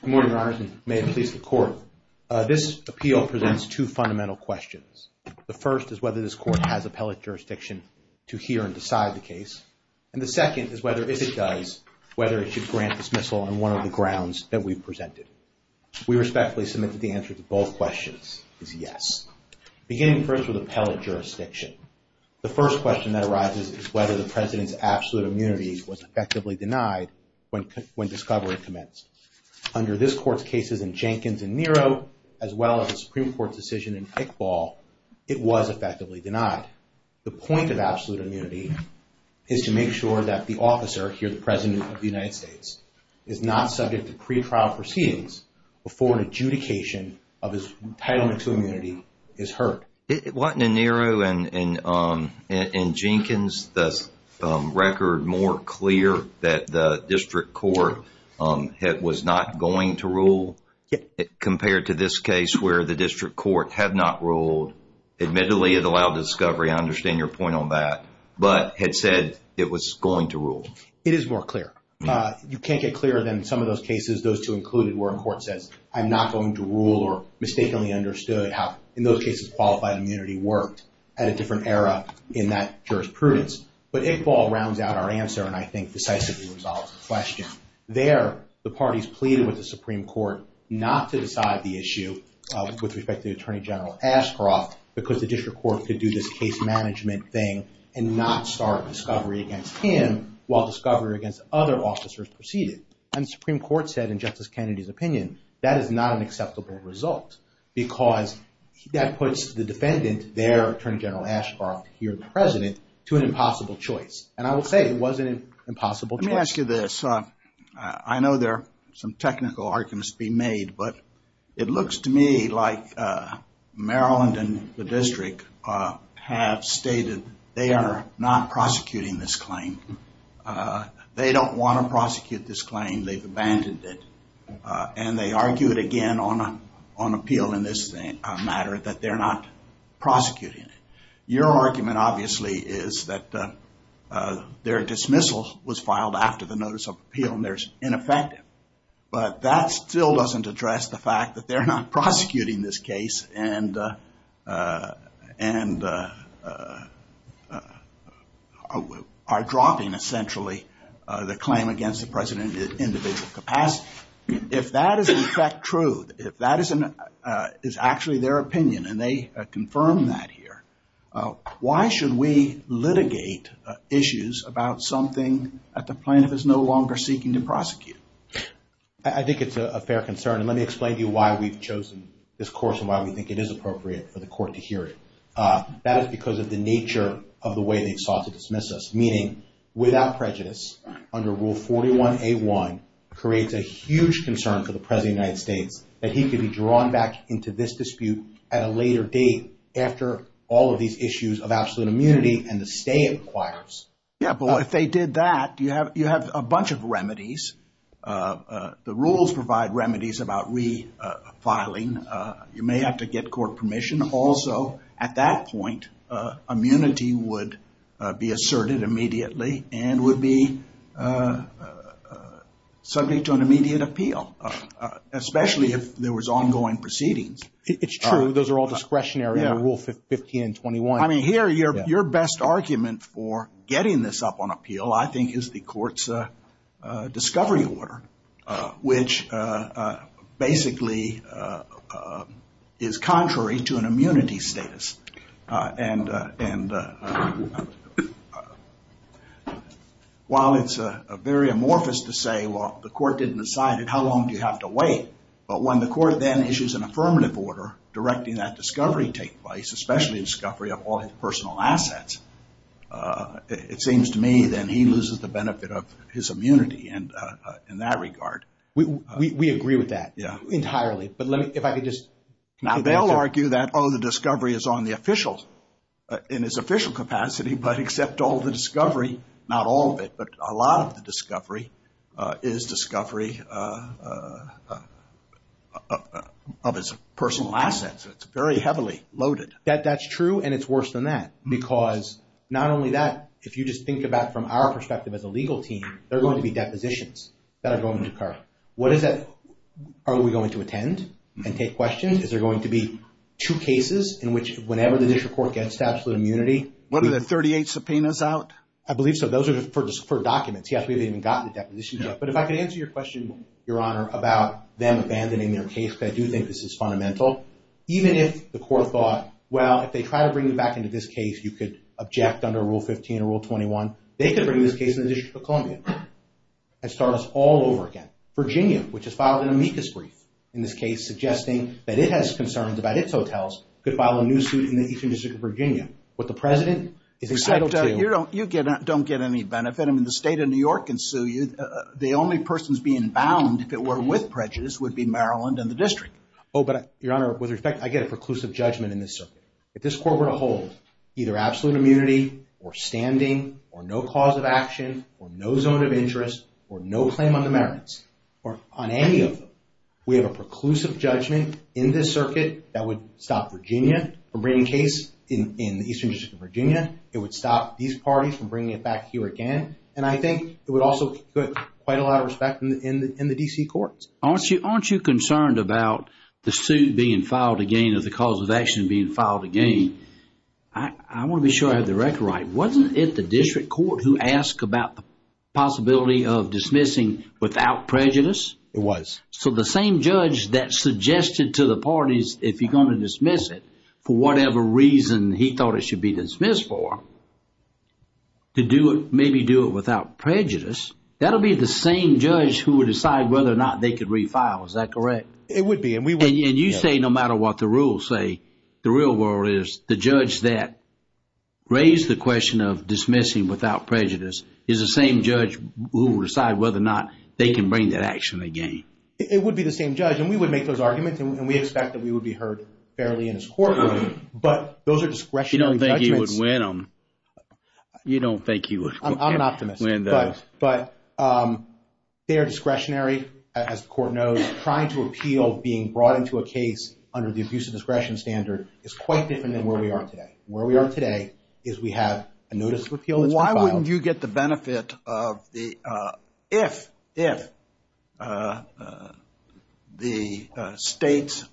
Good morning, your honors, and may it please the court. This appeal presents two fundamental questions. The first is whether this court has appellate jurisdiction to hear and decide the case. And the second is whether, if it does, whether it should grant dismissal on one of the grounds that we've presented. We respectfully submit that the answer to both questions is yes. Beginning first with appellate jurisdiction, the first question that arises is whether the president's absolute immunity was effectively denied when discovery commenced. Under this court's cases in Jenkins and Nero, as well as the Supreme Court's decision in Iqbal, it was effectively denied. The point of absolute immunity is to make sure that the officer, here the president of the United States, is not subject to pretrial proceedings before an adjudication of his entitlement to immunity is heard. It wasn't in Nero and Jenkins, the record more clear that the district court was not going to rule compared to this case where the district court had not ruled. Admittedly, it allowed discovery. I understand your point on that. But it said it was going to rule. It is more clear. You can't get clearer than some of those cases, those two included, where a court says, I'm not going to rule or mistakenly understood how, in those cases, qualified immunity worked at a different era in that jurisprudence. But Iqbal rounds out our answer and I think decisively resolves the question. There, the parties pleaded with the Supreme Court not to decide the issue with respect to Attorney General Ashcroft because the district court could do this case management thing and not start discovery against him while discovery against other officers proceeded. And the Supreme Court said, in Justice Kennedy's opinion, that is not an acceptable result because that puts the defendant there, Attorney General Ashcroft, here the President, to an impossible choice. And I will say it was an impossible choice. Let me ask you this. I know there are some technical arguments to be made, but it looks to me like Maryland and the district have stated they are not prosecuting this claim. They don't want to prosecute this claim. They've abandoned it. And they argued, again, on appeal in this matter, that they're not prosecuting it. Your argument, obviously, is that their dismissal was filed after the notice of appeal and there's ineffective. But that still doesn't address the fact that they're not prosecuting this case and are dropping, essentially, the claim against the President in individual capacity. If that is, in fact, true, if that is actually their opinion, and they confirm that here, why should we litigate issues about something that the plaintiff is no longer seeking to prosecute? I think it's a fair concern. And let me explain to you why we've chosen this course and why we think it is appropriate for the court to hear it. That is because of the nature of the way they've sought to dismiss us, meaning without prejudice, under Rule 41A1, creates a huge concern for the President of the United States that he could be drawn back into this dispute at a later date after all of these issues of absolute immunity and the stay it requires. Yeah, but if they did that, you have a bunch of remedies. The rules provide remedies about refiling. You may have to get court permission. Also, at that point, immunity would be asserted immediately and would be subject to an immediate appeal, especially if there was ongoing proceedings. It's true. Those are all discretionary under Rule 15 and 21. I mean, here, your best argument for getting this up on appeal, I think, is the court's discovery order, which basically is contrary to an immunity status. And while it's very amorphous to say, well, the court didn't decide it, how long do you have to wait? But when the court then issues an affirmative order directing that discovery take place, especially discovery of all his personal assets, it seems to me then he loses the benefit of his immunity in that regard. We agree with that entirely. But if I could just conclude that. Now, they'll argue that, oh, the discovery is on the official, in its official capacity, but except all the discovery, not all of it, but a lot of the discovery is discovery of his personal assets. It's very heavily loaded. That's true, and it's worse than that, because not only that, if you just think about it from our perspective as a legal team, there are going to be depositions that are going to occur. What is that? Are we going to attend and take questions? Is there going to be two cases in which, whenever the district court gets to absolute immunity? One of the 38 subpoenas out? I believe so. Those are just for documents. He hasn't even gotten a deposition yet. But if I could answer your question, Your Honor, about them abandoning their case, because I do think this is fundamental. Even if the court thought, well, if they try to bring you back into this case, you could object under Rule 15 or Rule 21. They could bring this case in the District of Columbia and start us all over again. Virginia, which has filed an amicus brief in this case, suggesting that it has concerns about its hotels, could file a new suit in the Eastern District of Virginia. What the President is entitled to... But you don't get any benefit. I mean, the State of New York can sue you. The only persons being bound, if it were with prejudice, would be Maryland and the District. Oh, but Your Honor, with respect, I get a preclusive judgment in this circuit. If this court were to hold either absolute immunity, or standing, or no cause of action, or no zone of interest, or no claim on the merits, or on any of them, we have a preclusive judgment in this circuit that would stop Virginia from bringing a case in the Eastern District of Virginia. It would stop these parties from bringing it back here again. And I think it would also get quite a lot of respect in the D.C. courts. Aren't you concerned about the suit being filed again, or the cause of action being filed again? I want to be sure I have the record right. Wasn't it the District Court who asked about the possibility of dismissing without prejudice? It was. So the same judge that suggested to the parties, if you're going to dismiss it, for whatever reason he thought it should be dismissed for, to do it, maybe do it without prejudice, that would be the same judge who would decide whether or not they could refile, is that correct? It would be. And you say no matter what the rules say, the real world is the judge that raised the question of dismissing without prejudice is the same judge who will decide whether or not they can bring that action again. It would be the same judge. And we would make those arguments, and we expect that we would be heard fairly in his courtroom. But those are discretionary judgments. You don't think he would win them. You don't think he would win those. But they are discretionary, as the Court knows. Trying to appeal being brought into a case under the abuse of discretion standard is quite different than where we are today. Where we are today is we have a notice of appeal that's been filed. Why wouldn't you get the benefit of the, if the states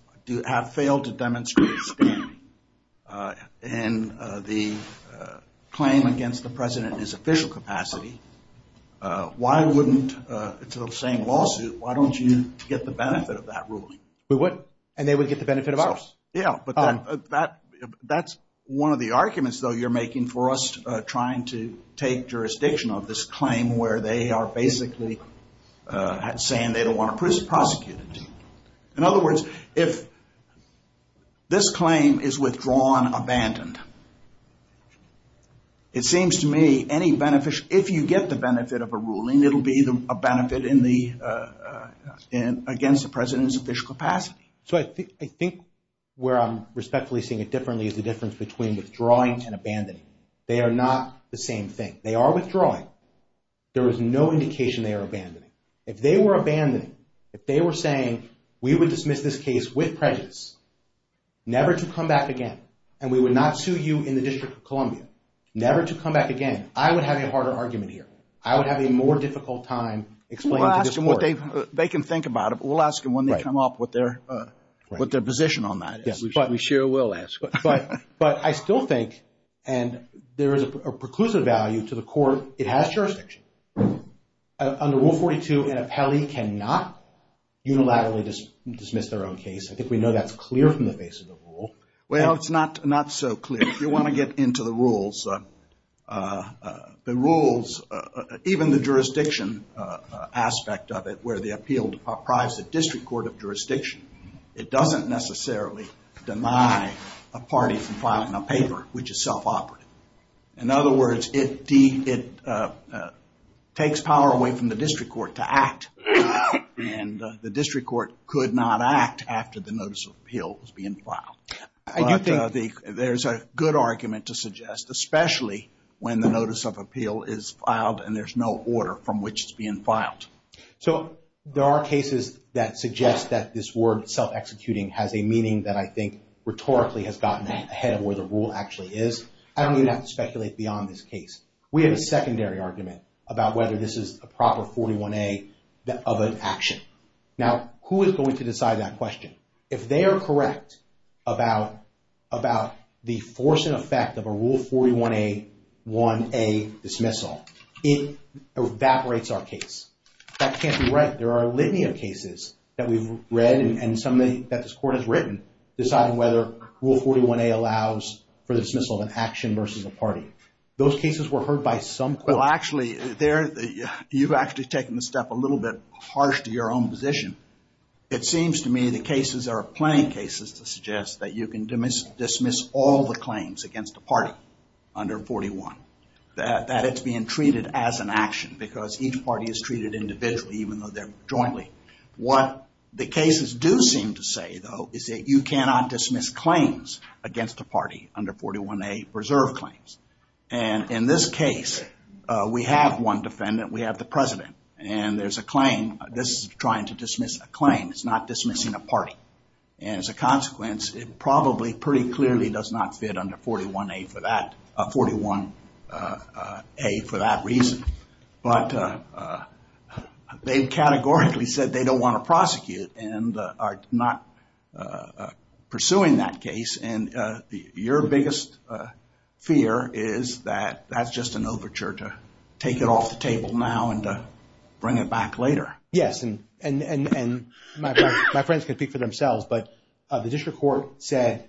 have failed to demonstrate standing in the claim against the President in his official capacity, why wouldn't, it's the same lawsuit, why don't you get the benefit of that ruling? We would, and they would get the benefit of ours. Yeah, but that's one of the arguments, though, you're making for us trying to take jurisdiction of this claim where they are basically saying they don't want to prosecute it. In other words, if this claim is withdrawn, abandoned, it seems to me any benefit, if you get the benefit of a ruling, it'll be a benefit against the President's official capacity. So I think where I'm respectfully seeing it differently is the difference between withdrawing and abandoning. They are not the same thing. They are withdrawing. There is no indication they are abandoning. If they were abandoning, if they were saying, we would dismiss this case with prejudice, never to come back again, and we would not sue you in the District of Columbia, never to come back again, I would have a harder argument here. I would have a more difficult time explaining to this court. We'll ask them what they, they can think about it, but we'll ask them when they come up with their position on that. We sure will ask. But I still think, and there is a preclusive value to the court, it has jurisdiction. Under Rule 42, an appellee cannot unilaterally dismiss their own case. I think we know that's clear from the face of the rule. Well, it's not so clear. If you want to get into the rules, the rules, even the jurisdiction aspect of it, where the appeal deprives the district court of jurisdiction, it doesn't necessarily deny a party from filing a paper, which is self-operative. In other words, it takes power away from the district court to act, and the district court could not act after the notice of appeal was being filed. I do think there's a good argument to suggest, especially when the notice of appeal is filed and there's no order from which it's being filed. So there are cases that suggest that this word self-executing has a meaning that I think rhetorically has gotten ahead of where the rule actually is. I don't even have to speculate beyond this case. We have a secondary argument about whether this is a proper 41A of an action. Now, who is going to decide that question? If they are correct about the force and effect of a Rule 41A 1A dismissal, it evaporates our case. That can't be right. There are a litany of cases that we've read and some that this court has written deciding whether Rule 41A allows for the dismissal of an action versus a party. Those cases were heard by some. Well, actually, you've actually taken the step a little bit harsh to your own position. It seems to me the cases are plenty of cases to suggest that you can dismiss all the claims against a party under 41, that it's being treated as an action because each party is treated individually even though they're jointly. What the cases do seem to say, though, is that you cannot dismiss claims against a party under 41A reserve claims. In this case, we have one defendant. We have the president. There's a claim. This is trying to dismiss a claim. It's not dismissing a party. As a consequence, it probably pretty clearly does not fit under 41A for that reason. But they've categorically said they don't want to prosecute and are not pursuing that case. Your biggest fear is that that's just an overture to take it off the table now and to bring it back later. Yes, and my friends can speak for themselves, but the district court said,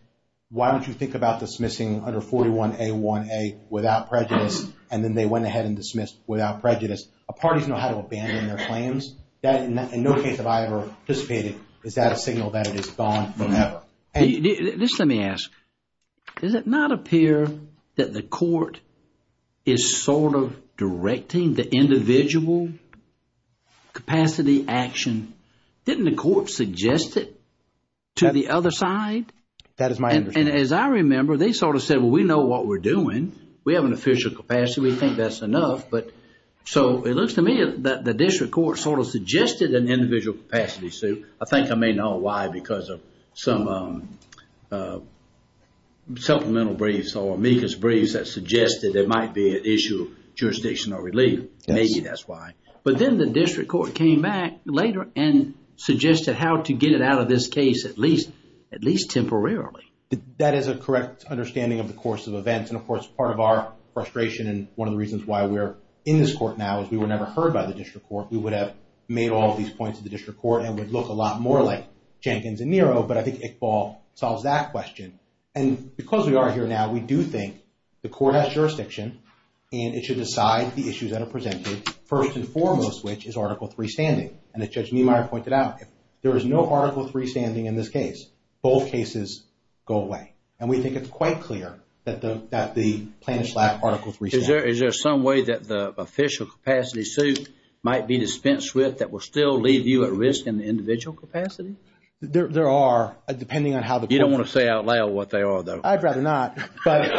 why don't you think about dismissing under 41A1A without prejudice? And then they went ahead and dismissed without prejudice. Parties know how to abandon their claims. In no case have I ever participated. Is that a signal that it is gone forever? Just let me ask, does it not appear that the court is sort of directing the individual capacity action? Didn't the court suggest it to the other side? That is my understanding. And as I remember, they sort of said, well, we know what we're doing. We have an official capacity. We think that's enough. So it looks to me that the district court sort of suggested an individual capacity suit. I think I may know why because of some supplemental briefs or amicus briefs that suggested there might be an issue of jurisdiction or relief. Maybe that's why. But then the district court came back later and suggested how to get it out of this case at least temporarily. That is a correct understanding of the course of events. And, of course, part of our frustration and one of the reasons why we're in this court now is we were never heard by the district court. We would have made all of these points at the district court and would look a lot more like Jenkins and Nero. But I think Iqbal solves that question. And because we are here now, we do think the court has jurisdiction and it should decide the issues that are presented, first and foremost of which is Article III standing. And as Judge Niemeyer pointed out, if there is no Article III standing in this case, both cases go away. And we think it's quite clear that the plaintiff's lack of Article III standing. Is there some way that the official capacity suit might be dispensed with that will still leave you at risk in the individual capacity? There are, depending on how the court... You don't want to say out loud what they are, though. I'd rather not. But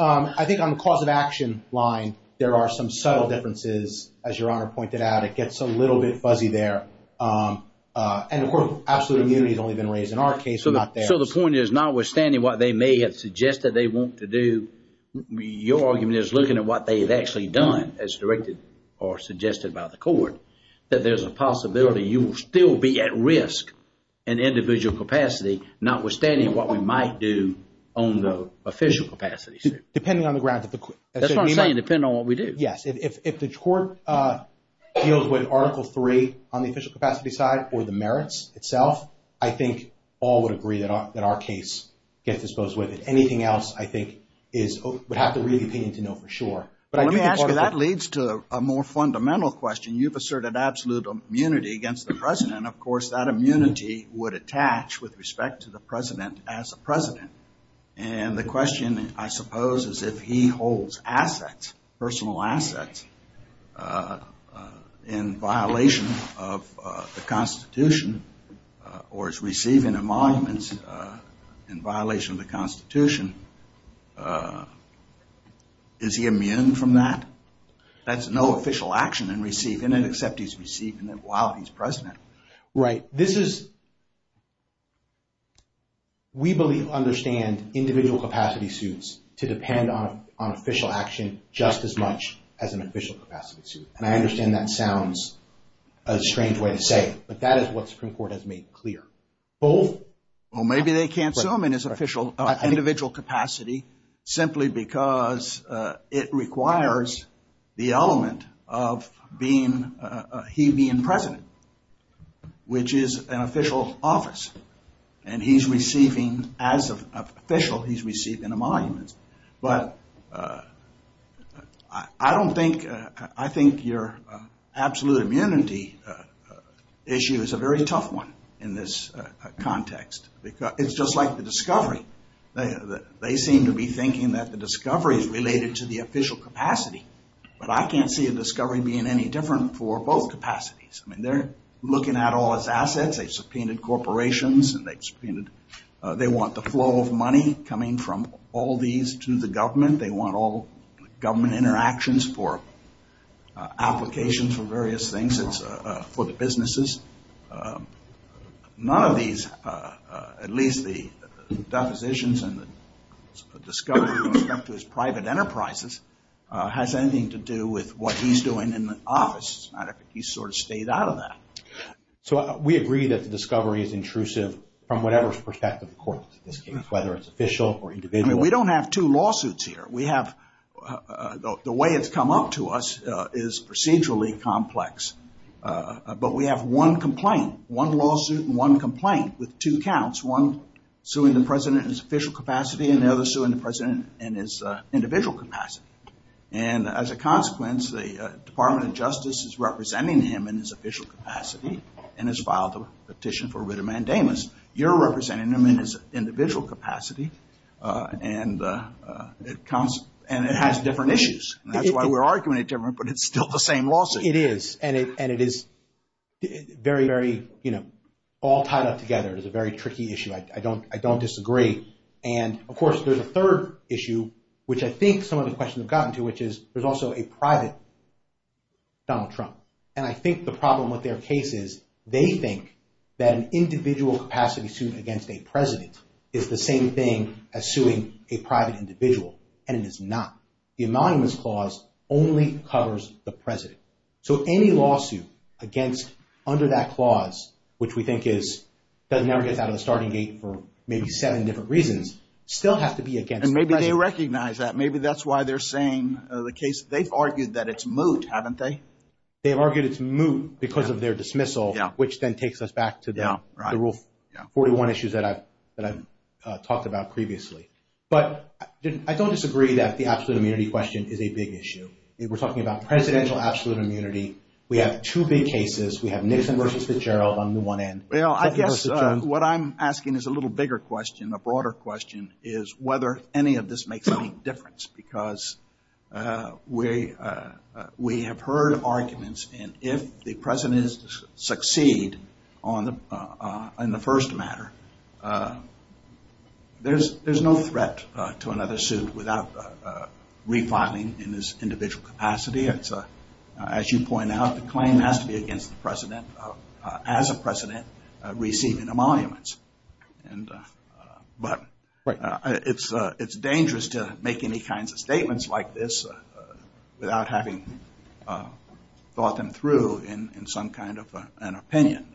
I think on the cause of action line, there are some subtle differences. As Your Honor pointed out, it gets a little bit fuzzy there. And, of course, absolute immunity has only been raised in our case and not theirs. So the point is, notwithstanding what they may have suggested they want to do, your argument is looking at what they've actually done, as directed or suggested by the court, that there's a possibility you will still be at risk in individual capacity, notwithstanding what we might do on the official capacity suit. Depending on the grounds of the court. That's what I'm saying, depending on what we do. Yes, if the court deals with Article III on the official capacity side or the merits itself, I think all would agree that our case gets disposed with it. Anything else, I think, would have to read the opinion to know for sure. Let me ask you, that leads to a more fundamental question. You've asserted absolute immunity against the President. Of course, that immunity would attach with respect to the President as a President. And the question, I suppose, is if he holds assets, personal assets, in violation of the Constitution, or is receiving the monuments in violation of the Constitution, is he immune from that? That's no official action in receiving it, except he's receiving it while he's President. Right, this is, we believe, understand individual capacity suits to depend on official action just as much as an official capacity suit. And I understand that sounds a strange way to say it, but that is what the Supreme Court has made clear. Both? Well, maybe they can't sue him in his official, individual capacity, simply because it requires the element of being, he being President, which is an official office. And he's receiving, as an official, he's receiving the monuments. But I don't think, I think your absolute immunity issue is a very tough one in this context. It's just like the discovery. They seem to be thinking that the discovery is related to the official capacity. But I can't see a discovery being any different for both capacities. I mean, they're looking at all his assets. They've subpoenaed corporations and they've subpoenaed, they want the flow of money coming from all these to the government. They want all government interactions for applications for various things. It's for the businesses. None of these, at least the depositions and the discovery when it comes to his private enterprises, has anything to do with what he's doing in the office. It's not like he sort of stayed out of that. So we agree that the discovery is intrusive from whatever perspective the court is, whether it's official or individual. I mean, we don't have two lawsuits here. We have, the way it's come up to us is procedurally complex. But we have one complaint, one lawsuit and one complaint with two counts, one suing the President in his official capacity and the other suing the President in his individual capacity. And as a consequence, the Department of Justice is representing him in his official capacity and has filed a petition for writ of mandamus. You're representing him in his individual capacity and it has different issues. That's why we're arguing it different, but it's still the same lawsuit. It is, and it is very, very, you know, all tied up together. It is a very tricky issue. I don't disagree. And, of course, there's a third issue, which I think some of the questions have gotten to, which is there's also a private Donald Trump. And I think the problem with their case is they think that an individual capacity sued against a President is the same thing as suing a private individual, and it is not. The anonymous clause only covers the President. So any lawsuit against, under that clause, which we think is, that never gets out of the starting gate for maybe seven different reasons, still has to be against the President. And maybe they recognize that. Maybe that's why they're saying the case. They've argued that it's moot, haven't they? They've argued it's moot because of their dismissal, which then takes us back to the Rule 41 issues that I've talked about previously. But I don't disagree that the absolute immunity question is a big issue. We're talking about presidential absolute immunity. We have two big cases. We have Nixon versus Fitzgerald on the one end. Well, I guess what I'm asking is a little bigger question, a broader question, is whether any of this makes any difference. Because we have heard arguments, and if the President is to succeed on the first matter, there's no threat to another suit without refiling in this individual capacity. As you point out, the claim has to be against the President as a President receiving the monuments. But it's dangerous to make any kinds of statements like this without having thought them through in some kind of an opinion.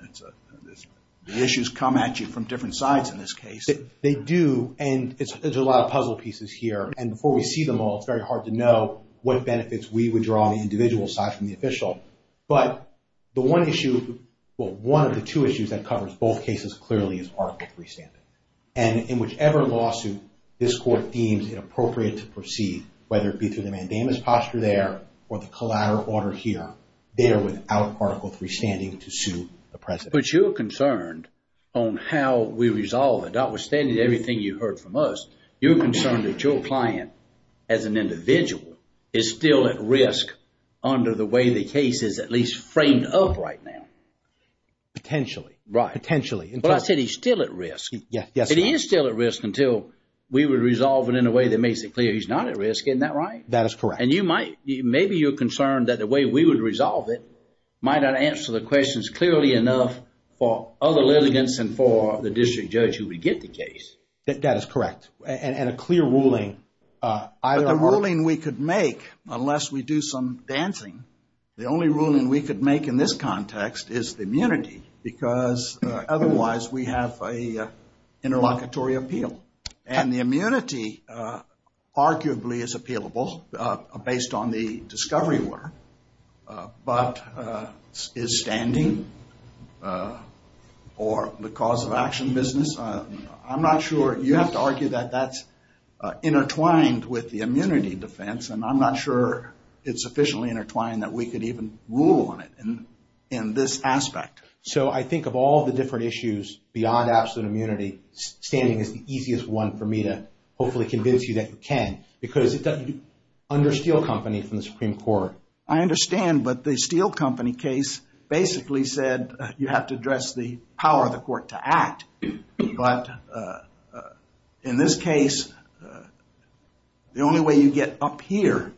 The issues come at you from different sides in this case. They do, and there's a lot of puzzle pieces here. And before we see them all, it's very hard to know what benefits we would draw on the individual side from the official. But the one issue, well, one of the two issues that covers both cases clearly is Article III standing. And in whichever lawsuit this Court deems it appropriate to proceed, whether it be through the mandamus posture there or the collateral order here, they are without Article III standing to sue the President. But you're concerned on how we resolve it. Notwithstanding everything you heard from us, you're concerned that your client as an individual is still at risk under the way the case is at least framed up right now. Potentially. Right. Potentially. Well, I said he's still at risk. Yes. He is still at risk until we would resolve it in a way that makes it clear he's not at risk. Isn't that right? That is correct. And you might, maybe you're concerned that the way we would resolve it might not answer the questions clearly enough for other litigants and for the district judge who would get the case. That is correct. And a clear ruling. But the ruling we could make, unless we do some dancing, the only ruling we could make in this context is the immunity because otherwise we have an interlocutory appeal. And the immunity arguably is appealable based on the discovery order, but is standing or the cause of action business, I'm not sure, you have to argue that that's intertwined with the immunity defense and I'm not sure it's sufficiently intertwined that we could even rule on it in this aspect. So I think of all the different issues beyond absolute immunity, standing is the easiest one for me to hopefully convince you that you can because it's under Steele Company from the Supreme Court. I understand, but the Steele Company case basically said you have to address the power of the court to act. But in this case, the only way you get up here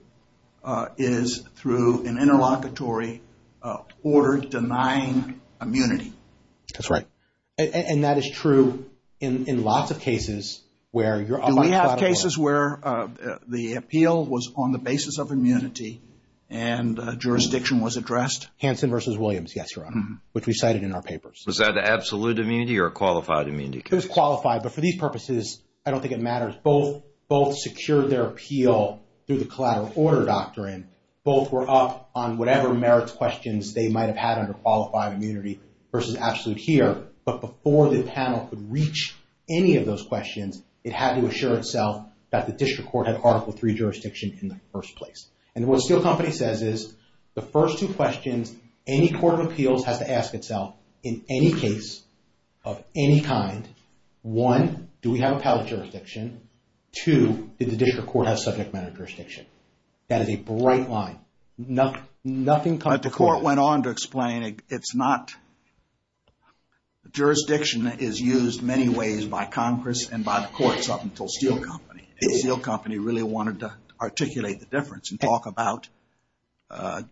is through an interlocutory order denying immunity. That's right. And that is true in lots of cases where you're on the side of the law. Do we have cases where the appeal was on the basis of immunity and jurisdiction was addressed? Hansen versus Williams, yes, Your Honor, which we cited in our papers. Was that absolute immunity or qualified immunity? It was qualified, but for these purposes, I don't think it matters. Both secured their appeal through the collateral order doctrine. Both were up on whatever merits questions they might have had under qualified immunity versus absolute here. But before the panel could reach any of those questions, it had to assure itself that the district court had Article III jurisdiction in the first place. And what Steele Company says is the first two questions, any court of appeals has to ask itself in any case of any kind. One, do we have appellate jurisdiction? Two, did the district court have subject matter jurisdiction? That is a bright line. Nothing comes to court. But the court went on to explain it's not... Jurisdiction is used many ways by Congress and by the courts up until Steele Company. And Steele Company really wanted to articulate the difference and talk about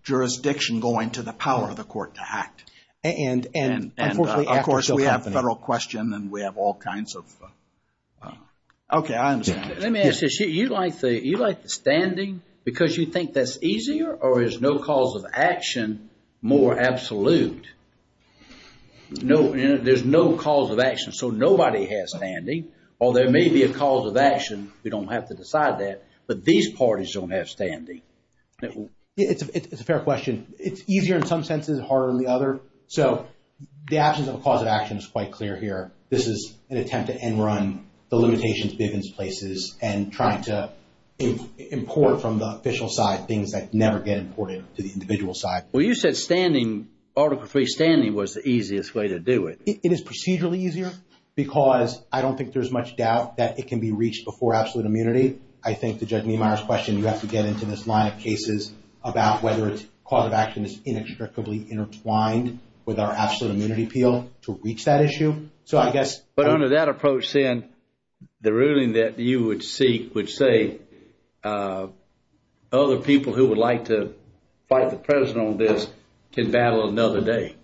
jurisdiction going to the power of the court to act. And, of course, we have a federal question and we have all kinds of... Okay, I understand. Let me ask you, you like the standing because you think that's easier or is no cause of action more absolute? There's no cause of action, so nobody has standing or there may be a cause of action. We don't have to decide that. But these parties don't have standing. It's a fair question. It's easier in some senses, harder in the other. So the absence of a cause of action is quite clear here. This is an attempt to end run the limitations Bivens places and trying to import from the official side things that never get imported to the individual side. Well, you said standing, Article III standing was the easiest way to do it. It is procedurally easier because I don't think there's much doubt that it can be reached before absolute immunity. I think to Judge Niemeyer's question, you have to get into this line of cases about whether it's cause of action is inextricably intertwined with our absolute immunity appeal to reach that issue. So I guess... But under that approach, then, the ruling that you would seek would say other people who would like to fight the president on this can battle another day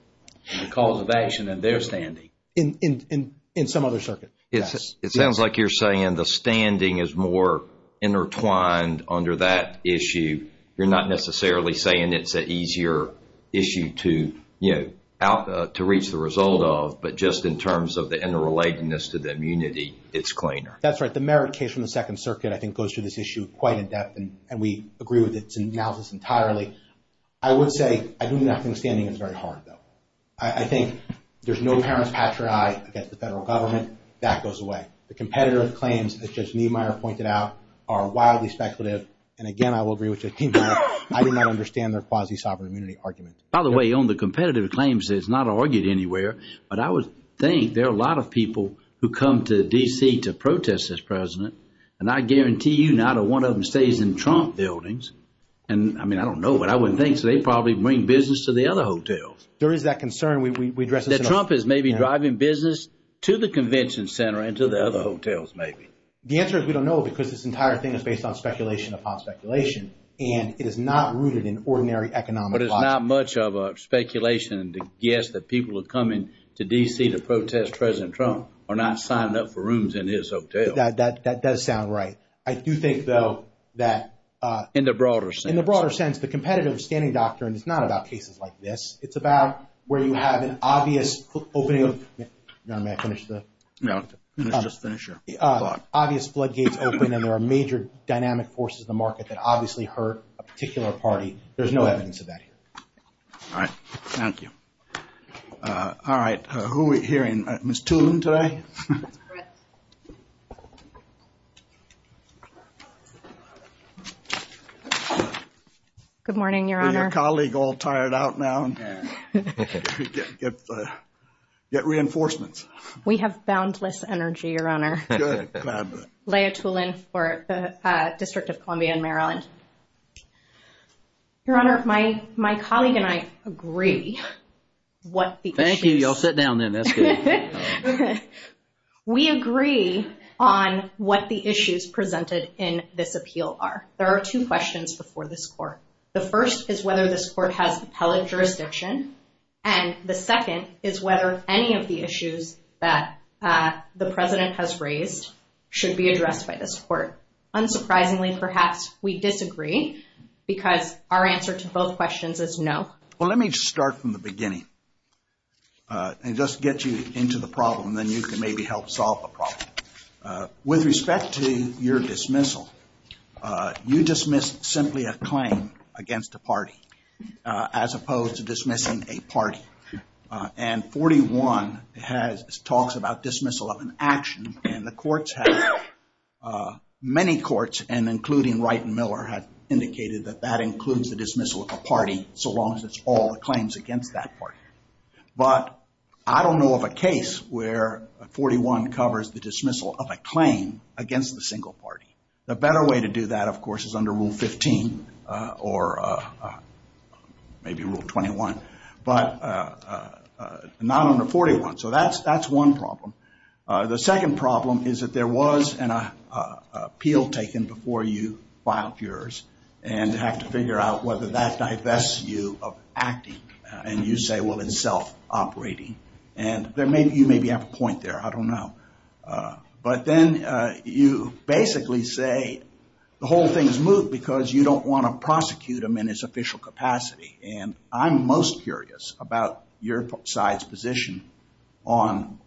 on the cause of action and their standing. In some other circuit. It sounds like you're saying the standing is more intertwined under that issue. You're not necessarily saying it's an easier issue to reach the result of, but just in terms of the interrelatedness to the immunity, it's cleaner. That's right. The merit case from the Second Circuit, I think, goes through this issue quite in depth and we agree with its analysis entirely. I would say I do not think standing is very hard, though. I think there's no parent's patriarch against the federal government. That goes away. The competitive claims that Judge Niemeyer pointed out are wildly speculative and, again, I will agree with Judge Niemeyer. I do not understand their quasi-sovereign immunity argument. By the way, on the competitive claims, it's not argued anywhere, but I would think there are a lot of people who come to D.C. to protest this president and I guarantee you not a one of them stays in Trump buildings. I mean, I don't know, but I would think they probably bring business to the other hotels. There is that concern. That Trump is maybe driving business to the convention center and to the other hotels, maybe. The answer is we don't know because this entire thing is based on speculation upon speculation and it is not rooted in ordinary economic logic. But it's not much of a speculation to guess that people are coming to D.C. to protest President Trump or not signing up for rooms in his hotel. That does sound right. I do think, though, that- In the broader sense. In the broader sense, the competitive standing doctrine is not about cases like this. It's about where you have an obvious opening of- John, may I finish the- No, let's just finish your thought. Obvious floodgates open and there are major dynamic forces in the market that obviously hurt a particular party. There's no evidence of that here. All right, thank you. All right, who are we hearing? Ms. Toole today? Thank you. Good morning, Your Honor. Your colleague all tired out now? Get reinforcements. We have boundless energy, Your Honor. Good. Lay a tool in for the District of Columbia in Maryland. Your Honor, my colleague and I agree what the issues- We agree on what the issues presented in this appeal are. There are two questions before this court. The first is whether this court has appellate jurisdiction, and the second is whether any of the issues that the President has raised should be addressed by this court. Unsurprisingly, perhaps we disagree because our answer to both questions is no. Well, let me just start from the beginning and just get you into the problem, and then you can maybe help solve the problem. With respect to your dismissal, you dismissed simply a claim against a party as opposed to dismissing a party. And 41 talks about dismissal of an action, and the courts have- many courts, and including Wright and Miller, have indicated that that includes the dismissal of a party so long as it's all the claims against that party. But I don't know of a case where 41 covers the dismissal of a claim against the single party. The better way to do that, of course, is under Rule 15 or maybe Rule 21, but not under 41. So that's one problem. The second problem is that there was an appeal taken before you filed yours, and you have to figure out whether that divests you of acting, and you say, well, it's self-operating. And you maybe have a point there. I don't know. But then you basically say the whole thing is moot because you don't want to prosecute him in his official capacity, and I'm most curious about your side's position on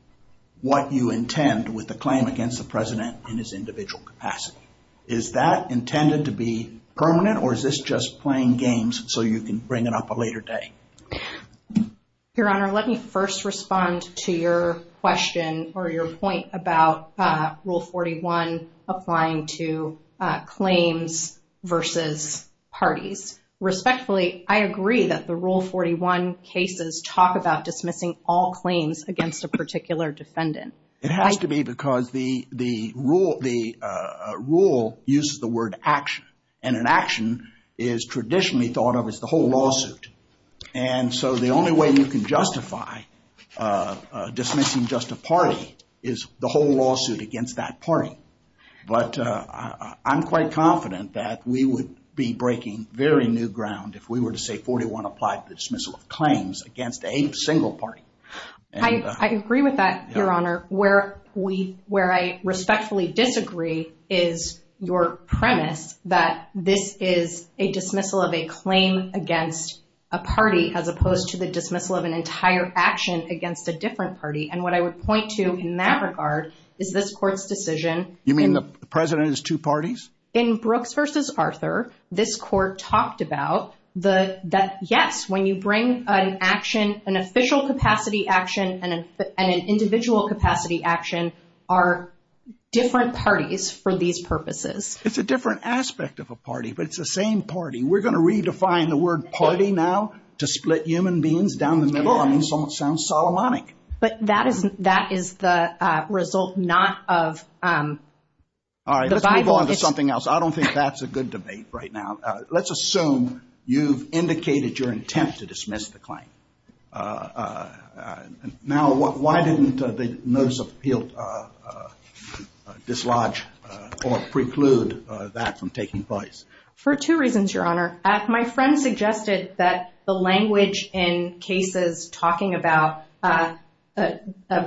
what you intend with the claim against the president in his individual capacity. Is that intended to be permanent, or is this just playing games so you can bring it up a later day? Your Honor, let me first respond to your question or your point about Rule 41 applying to claims versus parties. Respectfully, I agree that the Rule 41 cases talk about dismissing all claims against a particular defendant. It has to be because the rule uses the word action, and an action is traditionally thought of as the whole lawsuit. And so the only way you can justify dismissing just a party is the whole lawsuit against that party. But I'm quite confident that we would be breaking very new ground if we were to say 41 applied to the dismissal of claims against a single party. I agree with that, Your Honor. Where I respectfully disagree is your premise that this is a dismissal of a claim against a party as opposed to the dismissal of an entire action against a different party. And what I would point to in that regard is this Court's decision. You mean the president is two parties? In Brooks v. Arthur, this Court talked about that, yes, when you bring an action, an official capacity action and an individual capacity action are different parties for these purposes. It's a different aspect of a party, but it's the same party. We're going to redefine the word party now to split human beings down the middle? I mean, it sounds Solomonic. But that is the result not of the Bible. All right, let's move on to something else. I don't think that's a good debate right now. Let's assume you've indicated your intent to dismiss the claim. Now, why didn't the Notice of Appeal dislodge or preclude that from taking place? For two reasons, Your Honor. My friend suggested that the language in cases talking about a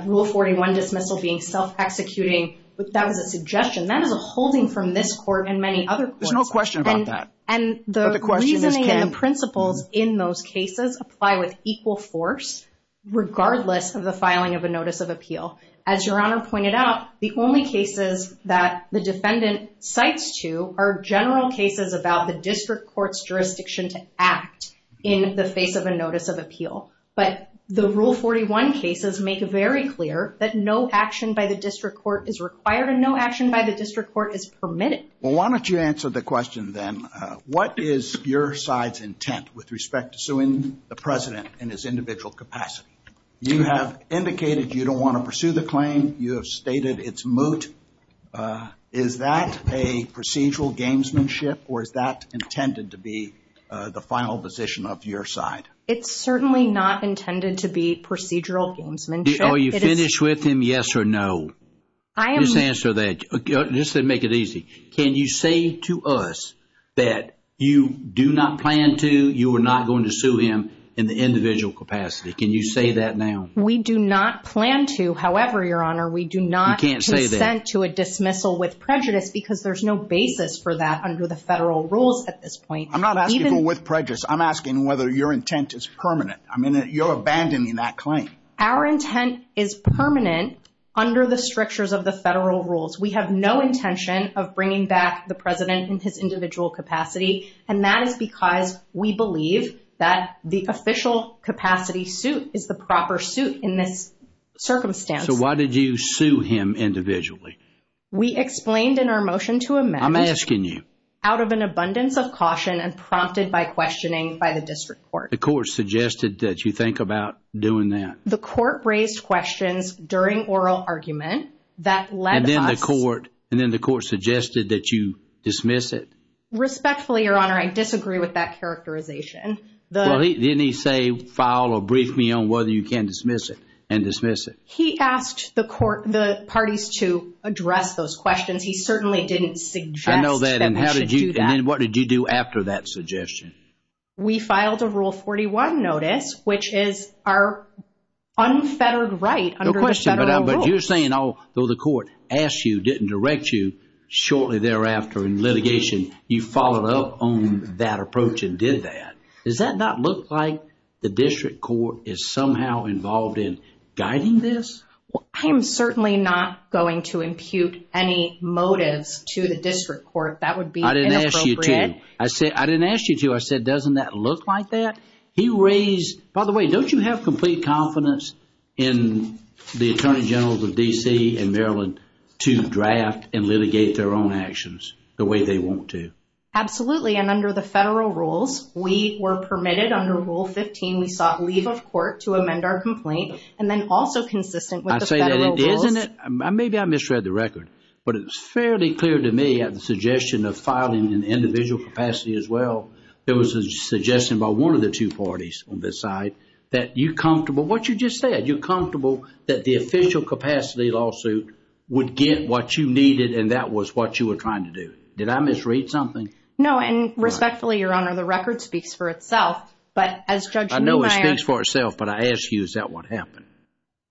Rule 41 dismissal being self-executing, that was a suggestion. That is a holding from this Court and many other courts. There's no question about that. And the reasoning and the principles in those cases apply with equal force, regardless of the filing of a Notice of Appeal. As Your Honor pointed out, the only cases that the defendant cites to are general cases about the district court's jurisdiction to act in the face of a Notice of Appeal. But the Rule 41 cases make it very clear that no action by the district court is required and no action by the district court is permitted. Well, why don't you answer the question then. What is your side's intent with respect to suing the President in his individual capacity? You have indicated you don't want to pursue the claim. You have stated it's moot. Is that a procedural gamesmanship or is that intended to be the final position of your side? It's certainly not intended to be procedural gamesmanship. Are you finished with him, yes or no? Just answer that. Just to make it easy, can you say to us that you do not plan to, you are not going to sue him in the individual capacity? Can you say that now? We do not plan to. However, Your Honor, we do not consent to a dismissal with prejudice because there's no basis for that under the federal rules at this point. I'm not asking with prejudice. I'm asking whether your intent is permanent. I mean, you're abandoning that claim. Our intent is permanent under the strictures of the federal rules. We have no intention of bringing back the President in his individual capacity, and that is because we believe that the official capacity suit is the proper suit in this circumstance. So why did you sue him individually? We explained in our motion to amend. I'm asking you. Out of an abundance of caution and prompted by questioning by the district court. The court suggested that you think about doing that. The court raised questions during oral argument that led us. And then the court suggested that you dismiss it? Respectfully, Your Honor, I disagree with that characterization. Well, didn't he say, file or brief me on whether you can dismiss it and dismiss it? He asked the parties to address those questions. He certainly didn't suggest that we should do that. I know that, and then what did you do after that suggestion? We filed a Rule 41 notice, which is our unfettered right under the federal rules. But you're saying, although the court asked you, didn't direct you, shortly thereafter in litigation, you followed up on that approach and did that. Does that not look like the district court is somehow involved in guiding this? I am certainly not going to impute any motives to the district court. That would be inappropriate. I didn't ask you to. I didn't ask you to. I said, doesn't that look like that? He raised, by the way, don't you have complete confidence in the Attorney Generals of D.C. and Maryland to draft and litigate their own actions the way they want to? Absolutely, and under the federal rules, we were permitted, under Rule 15, we sought leave of court to amend our complaint, and then also consistent with the federal rules. Maybe I misread the record, but it was fairly clear to me at the suggestion of filing in individual capacity as well, there was a suggestion by one of the two parties on this side that you're comfortable, what you just said, you're comfortable that the official capacity lawsuit would get what you needed and that was what you were trying to do. Did I misread something? No, and respectfully, Your Honor, the record speaks for itself. I know it speaks for itself, but I ask you, is that what happened?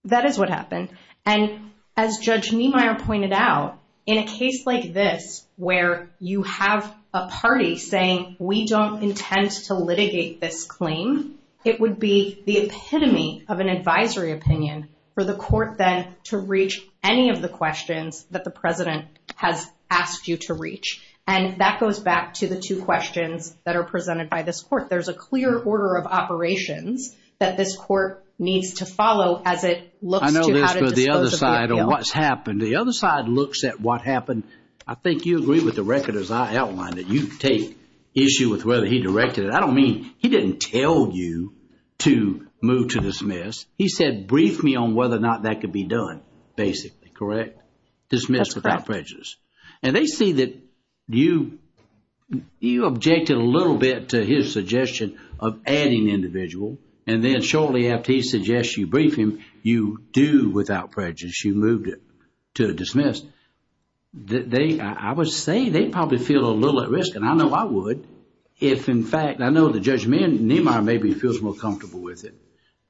That is what happened, and as Judge Niemeyer pointed out, in a case like this where you have a party saying, we don't intend to litigate this claim, it would be the epitome of an advisory opinion for the court then to reach any of the questions that the President has asked you to reach, and that goes back to the two questions that are presented by this court. There's a clear order of operations that this court needs to follow as it looks to how to dispose of the appeal. I know this, but the other side of what's happened, the other side looks at what happened. I think you agree with the record as I outlined it. You take issue with whether he directed it. I don't mean he didn't tell you to move to dismiss. He said brief me on whether or not that could be done, basically, correct? That's correct. Dismissed without prejudice. And they see that you objected a little bit to his suggestion of adding individual, and then shortly after he suggests you brief him, you do without prejudice. You moved it to dismiss. I would say they probably feel a little at risk, and I know I would, if in fact, I know the Judge Nehmeyer maybe feels more comfortable with it,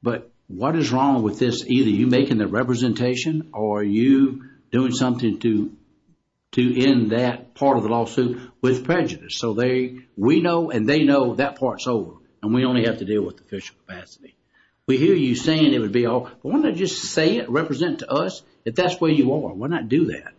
but what is wrong with this? Either you making the representation or you doing something to end that part of the lawsuit with prejudice. So we know and they know that part's over, and we only have to deal with the official capacity. We hear you saying it would be all, but why don't you just say it, represent to us that that's where you are. Why not do that?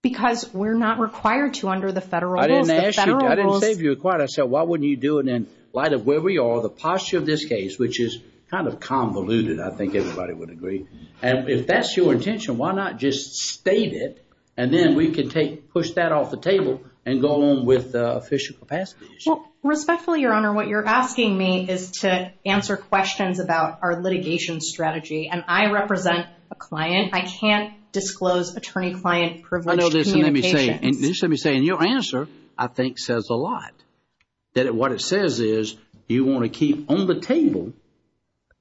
Because we're not required to under the federal rules. I didn't ask you. I didn't say if you're required. I said why wouldn't you do it in light of where we are, the posture of this case, which is kind of convoluted, I think everybody would agree. And if that's your intention, why not just state it, and then we can push that off the table and go on with the official capacity? Respectfully, Your Honor, what you're asking me is to answer questions about our litigation strategy, and I represent a client. I can't disclose attorney-client privilege communications. I know this, and let me say, and let me say, and your answer I think says a lot, that what it says is you want to keep on the table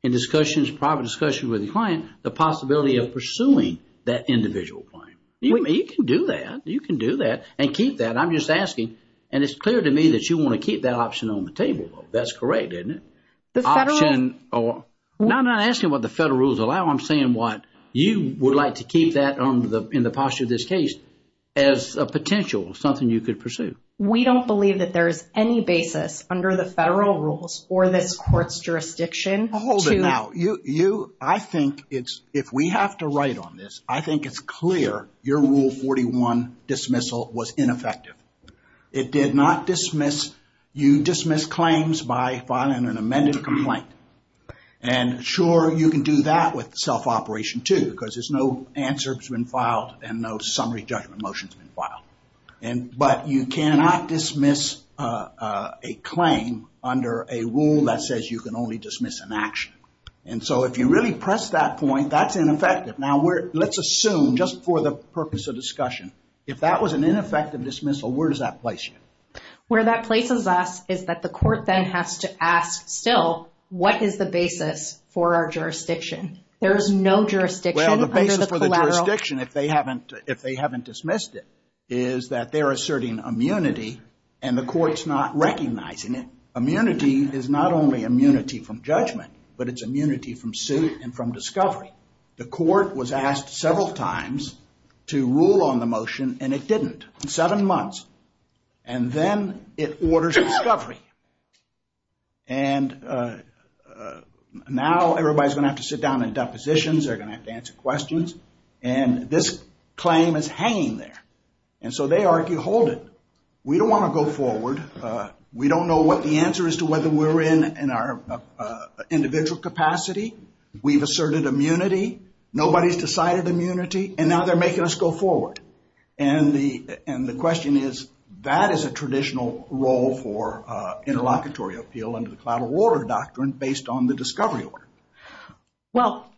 in discussions, private discussions with the client, the possibility of pursuing that individual claim. You can do that. You can do that and keep that. I'm just asking, and it's clear to me that you want to keep that option on the table. That's correct, isn't it? The federal? Now I'm not asking what the federal rules allow. No, I'm saying what you would like to keep that in the posture of this case as a potential, something you could pursue. We don't believe that there's any basis under the federal rules or this court's jurisdiction. Hold it now. You, I think it's, if we have to write on this, I think it's clear your Rule 41 dismissal was ineffective. It did not dismiss, you dismissed claims by filing an amended complaint. And sure, you can do that with self-operation too because there's no answer that's been filed and no summary judgment motion's been filed. But you cannot dismiss a claim under a rule that says you can only dismiss an action. And so if you really press that point, that's ineffective. Now let's assume, just for the purpose of discussion, if that was an ineffective dismissal, where does that place you? Where that places us is that the court then has to ask still, what is the basis for our jurisdiction? There is no jurisdiction under the collateral. Well, the basis for the jurisdiction, if they haven't dismissed it, is that they're asserting immunity and the court's not recognizing it. Immunity is not only immunity from judgment, but it's immunity from suit and from discovery. The court was asked several times to rule on the motion and it didn't. Seven months. And then it orders discovery. And now everybody's going to have to sit down in depositions. They're going to have to answer questions. And this claim is hanging there. And so they argue, hold it. We don't want to go forward. We don't know what the answer is to whether we're in our individual capacity. We've asserted immunity. Nobody's decided immunity. And now they're making us go forward. And the question is, that is a traditional role for interlocutory appeal under the collateral order doctrine based on the discovery order. Well,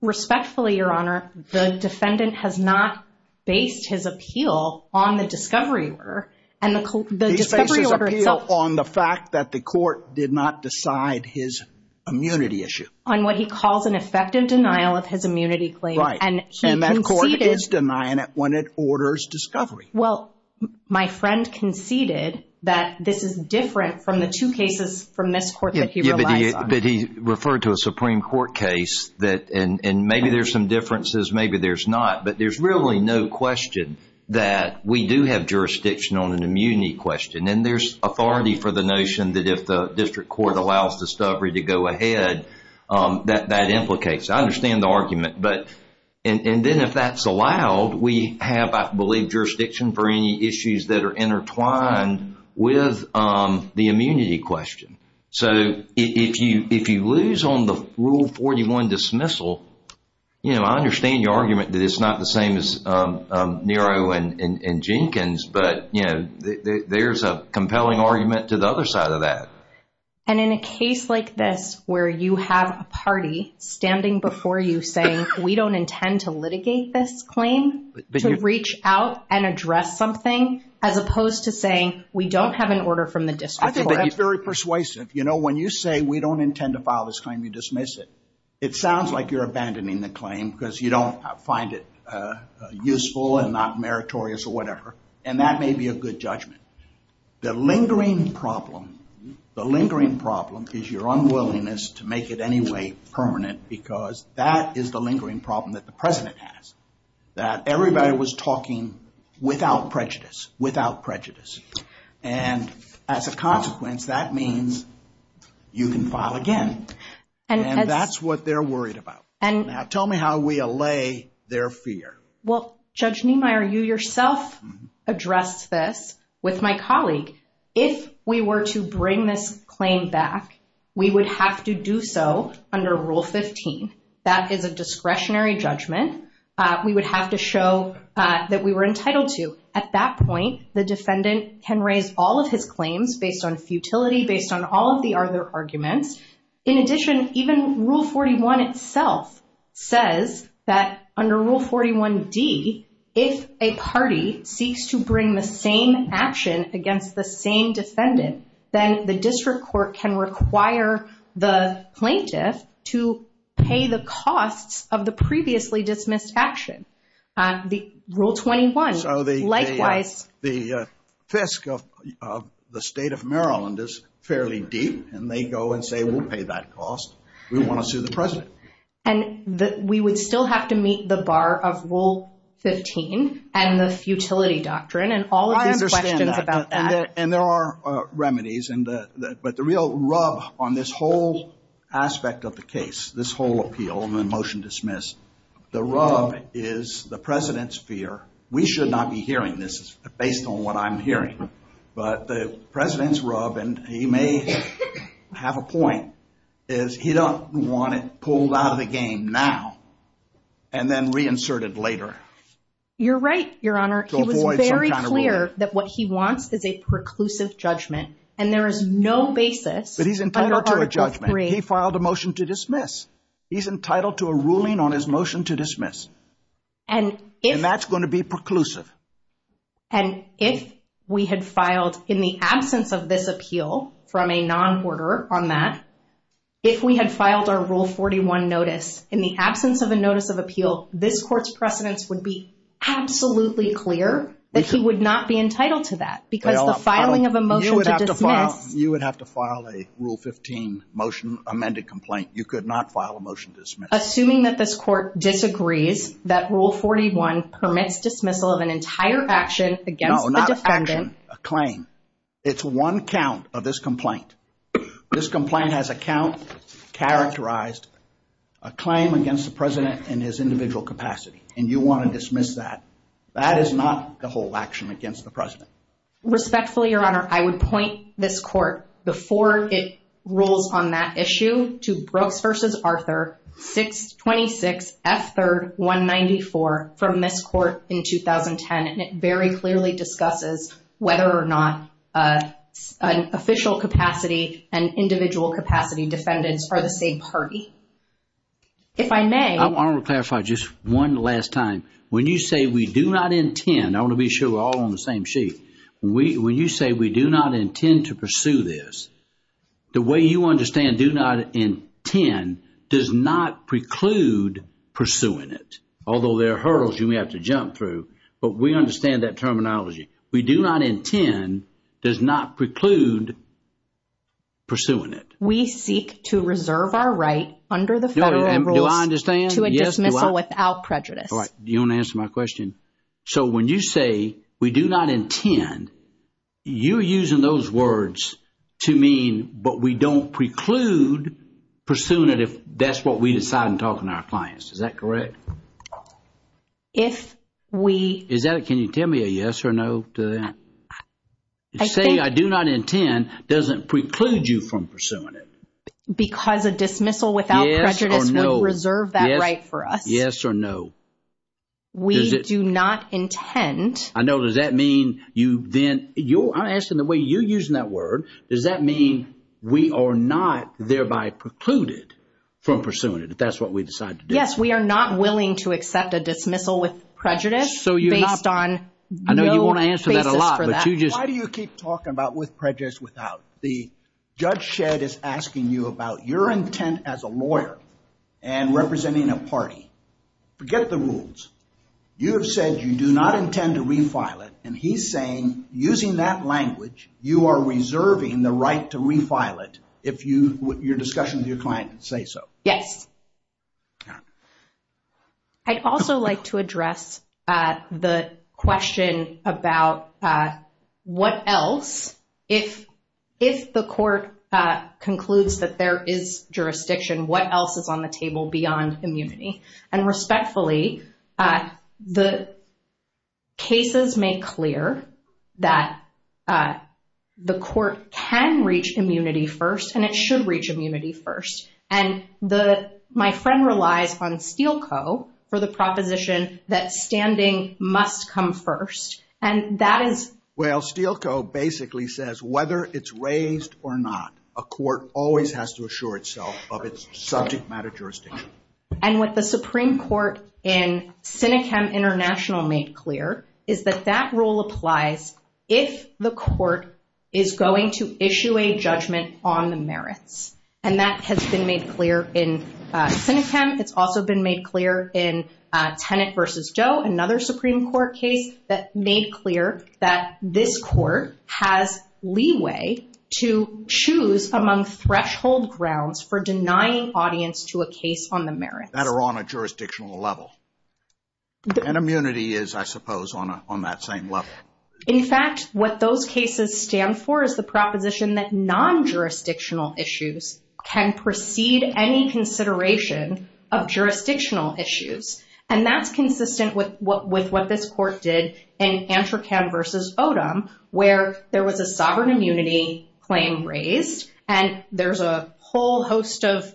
respectfully, Your Honor, the defendant has not based his appeal on the discovery order. He's based his appeal on the fact that the court did not decide his immunity issue. On what he calls an effective denial of his immunity claim. Right. And that court is denying it when it orders discovery. Well, my friend conceded that this is different from the two cases from this court that he relies on. But he referred to a Supreme Court case that maybe there's some differences, maybe there's not. But there's really no question that we do have jurisdiction on an immunity question. And there's authority for the notion that if the district court allows discovery to go ahead, that that implicates. I understand the argument. But and then if that's allowed, we have, I believe, jurisdiction for any issues that are intertwined with the immunity question. So if you if you lose on the rule 41 dismissal, you know, I understand your argument that it's not the same as Nero and Jenkins. But, you know, there's a compelling argument to the other side of that. And in a case like this where you have a party standing before you saying we don't intend to litigate this claim, but you reach out and address something as opposed to saying we don't have an order from the district. I think that's very persuasive. You know, when you say we don't intend to file this claim, you dismiss it. It sounds like you're abandoning the claim because you don't find it useful and not meritorious or whatever. And that may be a good judgment. The lingering problem, the lingering problem is your unwillingness to make it any way permanent, because that is the lingering problem that the president has. That everybody was talking without prejudice, without prejudice. And as a consequence, that means you can file again. And that's what they're worried about. And now tell me how we allay their fear. Well, Judge Niemeyer, you yourself addressed this with my colleague. If we were to bring this claim back, we would have to do so under Rule 15. That is a discretionary judgment. We would have to show that we were entitled to. At that point, the defendant can raise all of his claims based on futility, based on all of the other arguments. In addition, even Rule 41 itself says that under Rule 41D, if a party seeks to bring the same action against the same defendant, then the district court can require the plaintiff to pay the costs of the previously dismissed action. Rule 21, likewise. So the fisc of the state of Maryland is fairly deep. And they go and say, we'll pay that cost. We want to sue the president. And we would still have to meet the bar of Rule 15 and the futility doctrine. And all of these questions about that. And there are remedies. But the real rub on this whole aspect of the case, this whole appeal and the motion dismissed, the rub is the president's fear. We should not be hearing this based on what I'm hearing. But the president's rub, and he may have a point, is he don't want it pulled out of the game now and then reinserted later. You're right, Your Honor. He was very clear that what he wants is a preclusive judgment. And there is no basis under Article III. He filed a motion to dismiss. He's entitled to a ruling on his motion to dismiss. And that's going to be preclusive. And if we had filed in the absence of this appeal from a non-order on that, if we had filed our Rule 41 notice in the absence of a notice of appeal, this court's precedence would be absolutely clear that he would not be entitled to that. Because the filing of a motion to dismiss... You would have to file a Rule 15 motion amended complaint. You could not file a motion to dismiss. Assuming that this court disagrees that Rule 41 permits dismissal of an entire action against the defendant... No, not an action. A claim. It's one count of this complaint. This complaint has a count characterized, a claim against the president in his individual capacity. And you want to dismiss that. That is not the whole action against the president. Respectfully, Your Honor, I would point this court before it rules on that issue to Brooks v. Arthur 626 F. 3rd 194 from this court in 2010. And it very clearly discusses whether or not an official capacity and individual capacity defendants are the same party. If I may... I want to clarify just one last time. When you say we do not intend... I want to be sure we're all on the same sheet. When you say we do not intend to pursue this, the way you understand do not intend does not preclude pursuing it. Although there are hurdles you may have to jump through. But we understand that terminology. We do not intend does not preclude pursuing it. We seek to reserve our right under the federal rules to a dismissal without prejudice. You don't answer my question. So when you say we do not intend, you're using those words to mean but we don't preclude pursuing it if that's what we decide in talking to our clients. Is that correct? If we... Can you tell me a yes or no to that? Saying I do not intend doesn't preclude you from pursuing it. Because a dismissal without prejudice would reserve that right for us. Yes or no? We do not intend. I know. Does that mean you then... I'm asking the way you're using that word. Does that mean we are not thereby precluded from pursuing it if that's what we decide to do? Yes, we are not willing to accept a dismissal with prejudice based on no basis for that. Why do you keep talking about with prejudice without? The judge shed is asking you about your intent as a lawyer and representing a party. Forget the rules. You have said you do not intend to refile it and he's saying using that language, you are reserving the right to refile it if your discussion with your client say so. Yes. I'd also like to address the question about what else, if the court concludes that there is jurisdiction, what else is on the table beyond immunity? And respectfully, the cases make clear that the court can reach immunity first and it should reach immunity first. And my friend relies on Steele Co. for the proposition that standing must come first. And that is... Well, Steele Co. basically says whether it's raised or not, a court always has to assure itself of its subject matter jurisdiction. And what the Supreme Court in Senechem International made clear is that that rule applies if the court is going to issue a judgment on the merits. And that has been made clear in Senechem. It's also been made clear in Tenet v. Doe, another Supreme Court case, that made clear that this court has leeway to choose among threshold grounds for denying audience to a case on the merits. That are on a jurisdictional level. And immunity is, I suppose, on that same level. In fact, what those cases stand for is the proposition that non-jurisdictional issues can precede any consideration of jurisdictional issues. And that's consistent with what this court did in Antrocan v. Odom, where there was a sovereign immunity claim raised. And there's a whole host of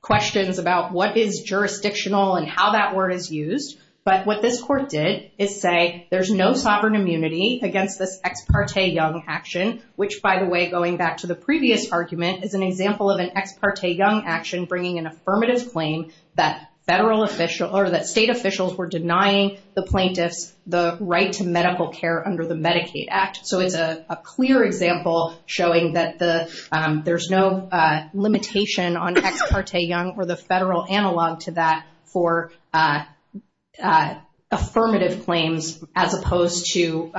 questions about what is jurisdictional and how that word is used. But what this court did is say there's no sovereign immunity against this Ex Parte Young action. Which, by the way, going back to the previous argument, is an example of an Ex Parte Young action bringing an affirmative claim that state officials were denying the plaintiffs the right to medical care under the Medicaid Act. So it's a clear example showing that there's no limitation on Ex Parte Young or the federal analog to that for affirmative claims as opposed to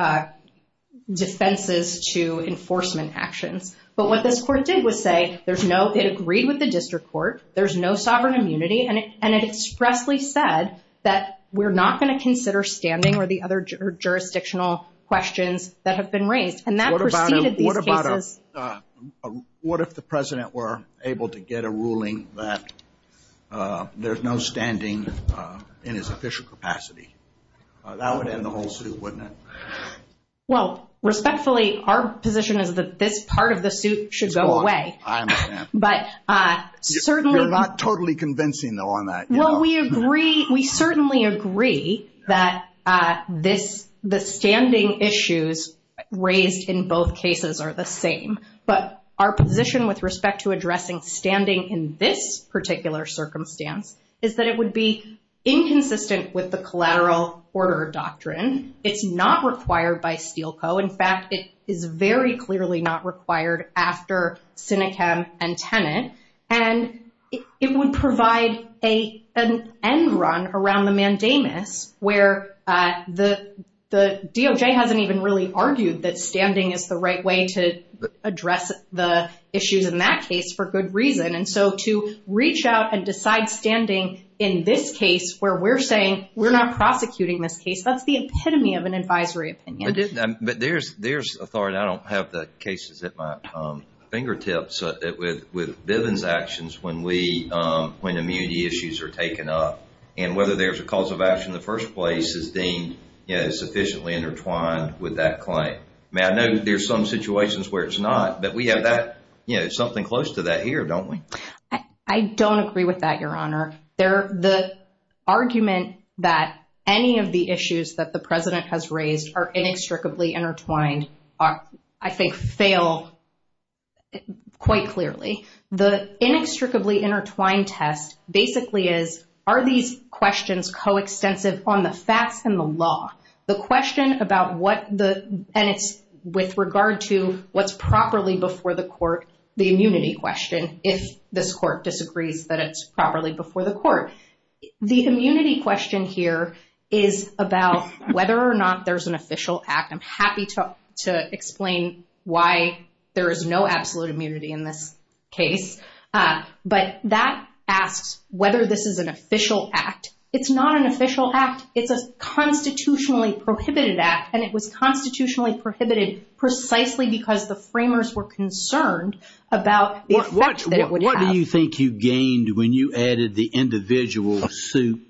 defenses to enforcement actions. But what this court did was say it agreed with the district court, there's no sovereign immunity, and it expressly said that we're not going to consider standing or the other jurisdictional questions that have been raised. And that preceded these cases. What if the president were able to get a ruling that there's no standing in his official capacity? That would end the whole suit, wouldn't it? Well, respectfully, our position is that this part of the suit should go away. I understand. You're not totally convincing, though, on that. Well, we agree, we certainly agree, that the standing issues raised in both cases are the same. But our position with respect to addressing standing in this particular circumstance is that it would be inconsistent with the collateral order doctrine. It's not required by Steele Co. In fact, it is very clearly not required after Sinechem and Tenet. And it would provide an end run around the mandamus where the DOJ hasn't even really argued that standing is the right way to address the issues in that case for good reason. And so to reach out and decide standing in this case where we're saying we're not prosecuting this case, that's the epitome of an advisory opinion. But there's authority. But I don't have the cases at my fingertips with Bivens' actions when immunity issues are taken up, and whether there's a cause of action in the first place is deemed sufficiently intertwined with that claim. I know there's some situations where it's not, but we have something close to that here, don't we? I don't agree with that, Your Honor. The argument that any of the issues that the President has raised are inextricably intertwined, I think, fail quite clearly. The inextricably intertwined test basically is, are these questions coextensive on the facts and the law? The question about what the, and it's with regard to what's properly before the court, the immunity question, if this court disagrees that it's properly before the court. The immunity question here is about whether or not there's an official act. I'm happy to explain why there is no absolute immunity in this case. But that asks whether this is an official act. It's not an official act. It's a constitutionally prohibited act, and it was constitutionally prohibited precisely because the framers were concerned about the effect that it would have. What do you think you gained when you added the individual suit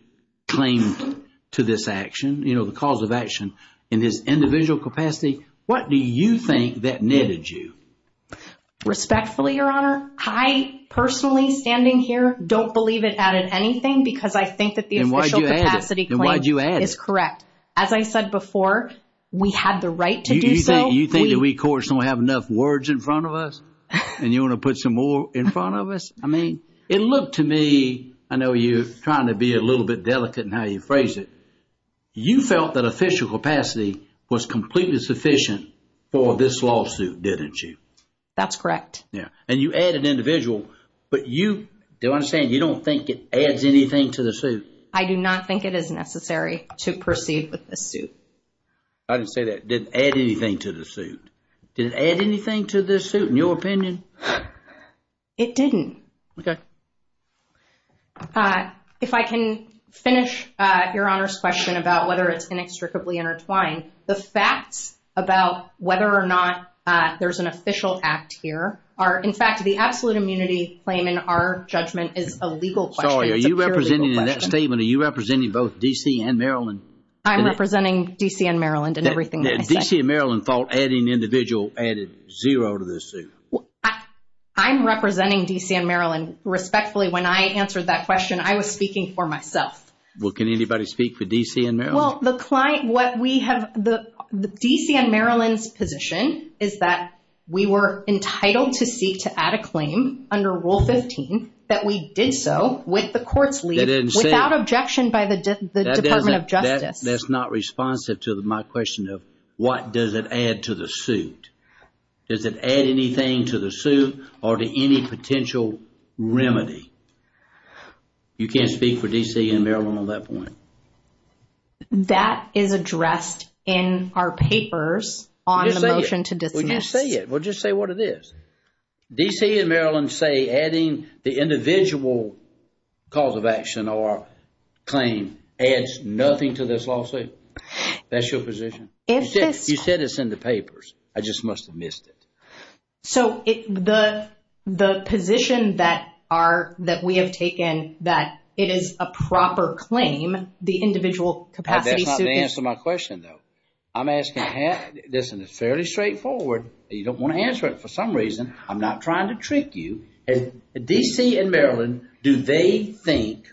claim to this action, you know, the cause of action in this individual capacity? What do you think that netted you? Respectfully, Your Honor, I personally standing here don't believe it added anything because I think that the official capacity claim is correct. As I said before, we had the right to do so. You think that we courts don't have enough words in front of us and you want to put some more in front of us? I mean, it looked to me, I know you're trying to be a little bit delicate in how you phrase it. You felt that official capacity was completely sufficient for this lawsuit, didn't you? That's correct. Yeah, and you added individual, but you, do I understand, you don't think it adds anything to the suit? I do not think it is necessary to proceed with this suit. I didn't say that. It didn't add anything to the suit. Did it add anything to the suit in your opinion? It didn't. Okay. If I can finish Your Honor's question about whether it's inextricably intertwined, the facts about whether or not there's an official act here are, in fact, the absolute immunity claim in our judgment is a legal question. Sorry, are you representing in that statement, are you representing both D.C. and Maryland? I'm representing D.C. and Maryland in everything that I said. D.C. and Maryland thought adding individual added zero to the suit. I'm representing D.C. and Maryland respectfully. When I answered that question, I was speaking for myself. Well, can anybody speak for D.C. and Maryland? Well, the client, what we have, D.C. and Maryland's position is that we were entitled to seek to add a claim under Rule 15, that we did so with the court's leave, without objection by the Department of Justice. That's not responsive to my question of what does it add to the suit. Does it add anything to the suit or to any potential remedy? You can't speak for D.C. and Maryland on that point? That is addressed in our papers on the motion to dismiss. Well, just say it. Well, just say what it is. D.C. and Maryland say adding the individual cause of action or claim adds nothing to this lawsuit. That's your position? You said this in the papers. I just must have missed it. So, the position that we have taken that it is a proper claim, the individual capacity suit. That's not the answer to my question, though. I'm asking, listen, it's fairly straightforward. You don't want to answer it for some reason. I'm not trying to trick you. D.C. and Maryland, do they think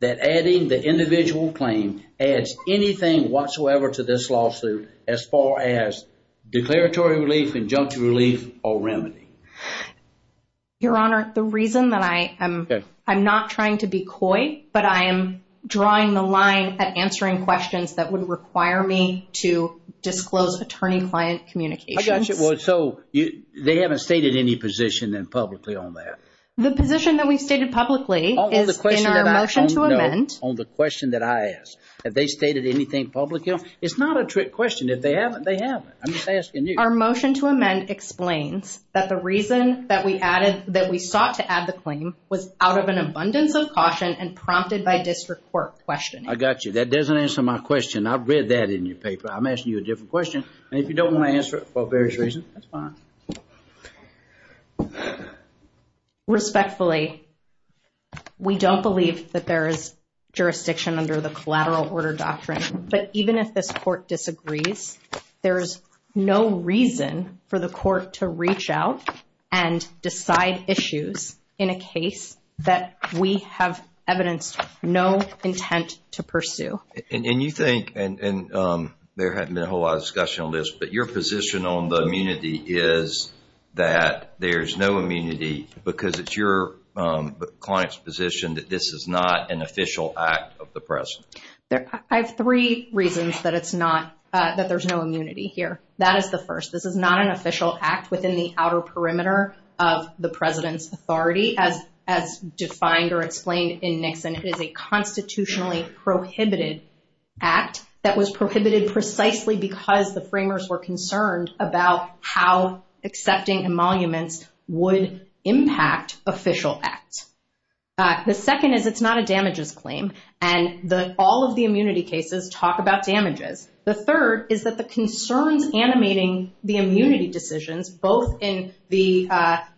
that adding the individual claim adds anything whatsoever to this lawsuit as far as declaratory relief, injunctive relief, or remedy? Your Honor, the reason that I am not trying to be coy, but I am drawing the line at answering questions that would require me to disclose attorney-client communications. I got you. So, they haven't stated any position publicly on that? The position that we've stated publicly is in our motion to amend. On the question that I asked, have they stated anything publicly? It's not a trick question. If they haven't, they haven't. I'm just asking you. Our motion to amend explains that the reason that we sought to add the claim was out of an abundance of caution and prompted by district court questioning. I got you. That doesn't answer my question. I've read that in your paper. I'm asking you a different question. If you don't want to answer it for various reasons, that's fine. Respectfully, we don't believe that there is jurisdiction under the collateral order doctrine. But even if this court disagrees, there is no reason for the court to reach out and decide issues in a case that we have evidenced no intent to pursue. And you think, and there hasn't been a whole lot of discussion on this, but your position on the immunity is that there's no immunity because it's your client's position that this is not an official act of the president. I have three reasons that it's not, that there's no immunity here. That is the first. This is not an official act within the outer perimeter of the president's authority as defined or explained in Nixon. It is a constitutionally prohibited act that was prohibited precisely because the framers were concerned about how accepting emoluments would impact official acts. The second is it's not a damages claim, and all of the immunity cases talk about damages. The third is that the concerns animating the immunity decisions, both in the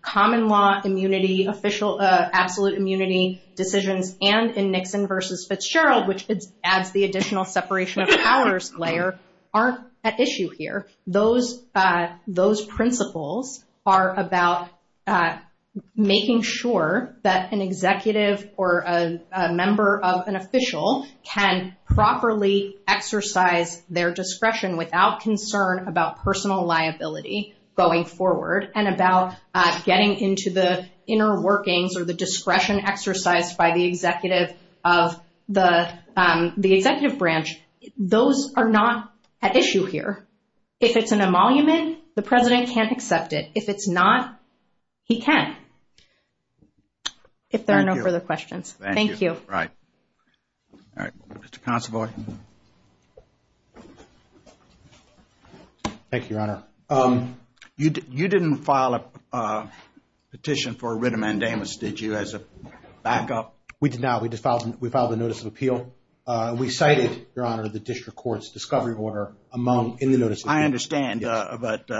common law immunity, absolute immunity decisions, and in Nixon versus Fitzgerald, which adds the additional separation of powers layer, aren't at issue here. Those principles are about making sure that an executive or a member of an official can properly exercise their discretion without concern about personal liability going forward and about getting into the inner workings or the discretion exercised by the executive branch. Those are not at issue here. If it's an emolument, the president can't accept it. If it's not, he can, if there are no further questions. Thank you. All right. Mr. Consovoy. Thank you, Your Honor. You didn't file a petition for writ of mandamus, did you, as a backup? We did not. We filed a notice of appeal. We cited, Your Honor, the district court's discovery order in the notice of appeal. I understand, but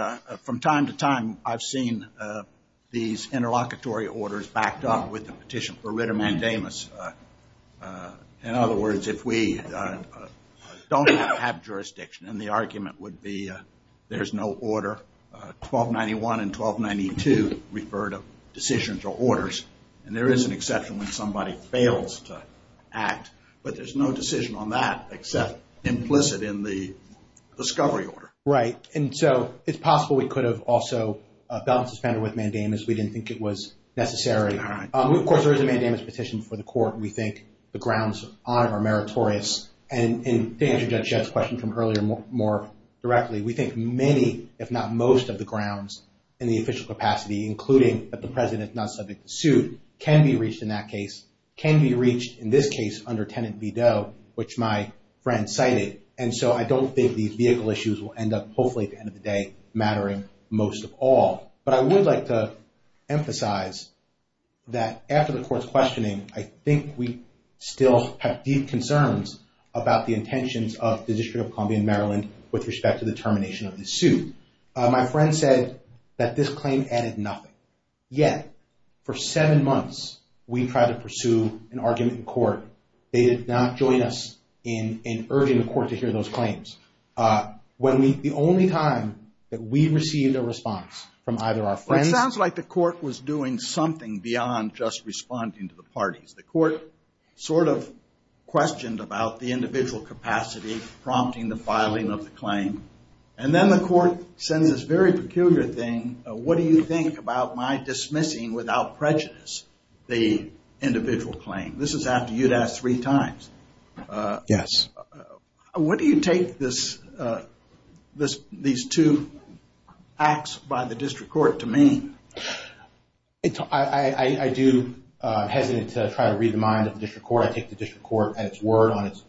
from time to time I've seen these interlocutory orders backed up with the petition for writ of mandamus. In other words, if we don't have jurisdiction, and the argument would be there's no order, 1291 and 1292 refer to decisions or orders. And there is an exception when somebody fails to act, but there's no decision on that except implicit in the discovery order. Right. And so it's possible we could have also gotten suspended with mandamus. We didn't think it was necessary. All right. Of course, there is a mandamus petition before the court. We think the grounds are meritorious. And to answer Judge Shedd's question from earlier more directly, we think many, if not most of the grounds in the official capacity, including that the president's not subject to suit, can be reached in that case, can be reached in this case under Tenet v. Doe, which my friend cited. And so I don't think these vehicle issues will end up, hopefully at the end of the day, mattering most of all. But I would like to emphasize that after the court's questioning, I think we still have deep concerns about the intentions of the District of Columbia in Maryland with respect to the termination of this suit. My friend said that this claim added nothing. Yet, for seven months, we tried to pursue an argument in court. They did not join us in urging the court to hear those claims. The only time that we received a response from either our friends. It sounds like the court was doing something beyond just responding to the parties. The court sort of questioned about the individual capacity prompting the filing of the claim. And then the court sends this very peculiar thing, what do you think about my dismissing without prejudice the individual claim? This is after you'd asked three times. Yes. What do you take these two acts by the district court to mean? I do hesitate to try to read the mind of the district court. I take the district court at its word on its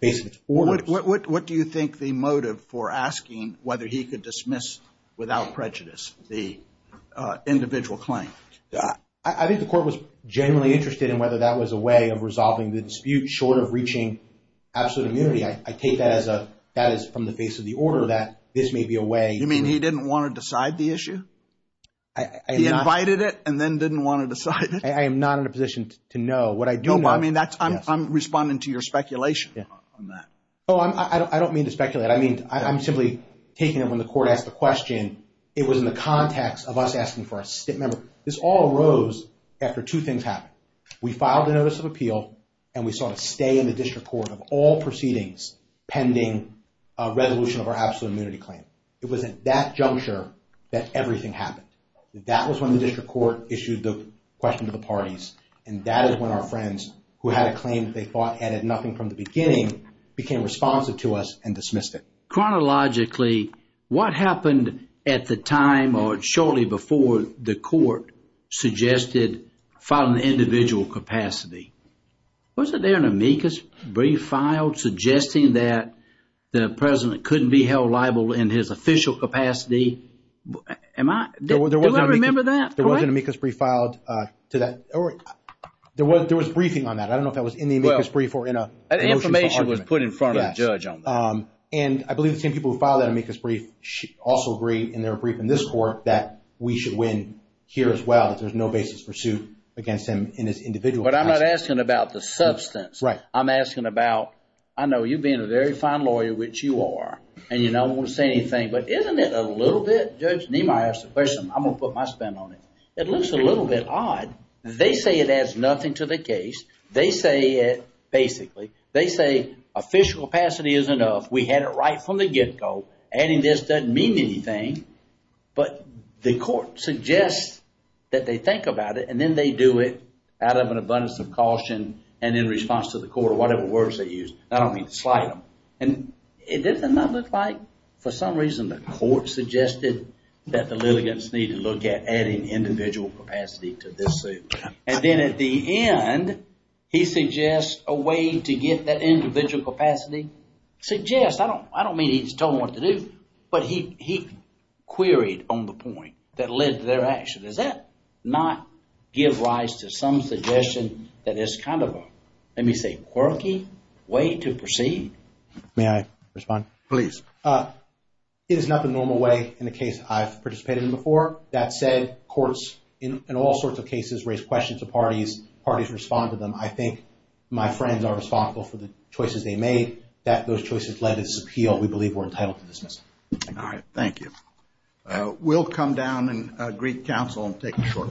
basis. What do you think the motive for asking whether he could dismiss without prejudice the individual claim? I think the court was genuinely interested in whether that was a way of resolving the dispute short of reaching absolute immunity. I take that as from the face of the order that this may be a way. You mean he didn't want to decide the issue? He invited it and then didn't want to decide it? I am not in a position to know what I do know. I'm responding to your speculation on that. I don't mean to speculate. I'm simply taking it when the court asked the question. It was in the context of us asking for a stint member. This all arose after two things happened. We filed a notice of appeal and we saw a stay in the district court of all proceedings pending a resolution of our absolute immunity claim. It was at that juncture that everything happened. That was when the district court issued the question to the parties. And that is when our friends, who had a claim that they thought added nothing from the beginning, became responsive to us and dismissed it. Chronologically, what happened at the time or shortly before the court suggested filing an individual capacity? Wasn't there an amicus brief filed suggesting that the president couldn't be held liable in his official capacity? Do I remember that? There was an amicus brief filed to that. There was briefing on that. I don't know if that was in the amicus brief or in a motion for argument. That information was put in front of the judge on that. And I believe the same people who filed that amicus brief also agreed in their brief in this court that we should win here as well, that there's no basis for suit against him in his individual capacity. But I'm not asking about the substance. I'm asking about, I know you being a very fine lawyer, which you are, and you don't want to say anything. But isn't it a little bit, Judge Niemeyer asked the question, I'm going to put my spin on it, it looks a little bit odd. They say it adds nothing to the case. They say it, basically, they say official capacity is enough. We had it right from the get-go. Adding this doesn't mean anything. But the court suggests that they think about it, and then they do it out of an abundance of caution and in response to the court, or whatever words they use. I don't mean to slight them. And doesn't that look like, for some reason, the court suggested that the litigants need to look at adding individual capacity to this suit. And then at the end, he suggests a way to get that individual capacity. Suggest, I don't mean he's told them what to do. But he queried on the point that led to their action. Does that not give rise to some suggestion that it's kind of a, let me say, quirky way to proceed? May I respond? Please. It is not the normal way in the case I've participated in before. That said, courts, in all sorts of cases, raise questions to parties. Parties respond to them. I think my friends are responsible for the choices they made, that those choices led to this appeal. We believe we're entitled to dismiss it. All right. Thank you. We'll come down and greet counsel and take a short recess.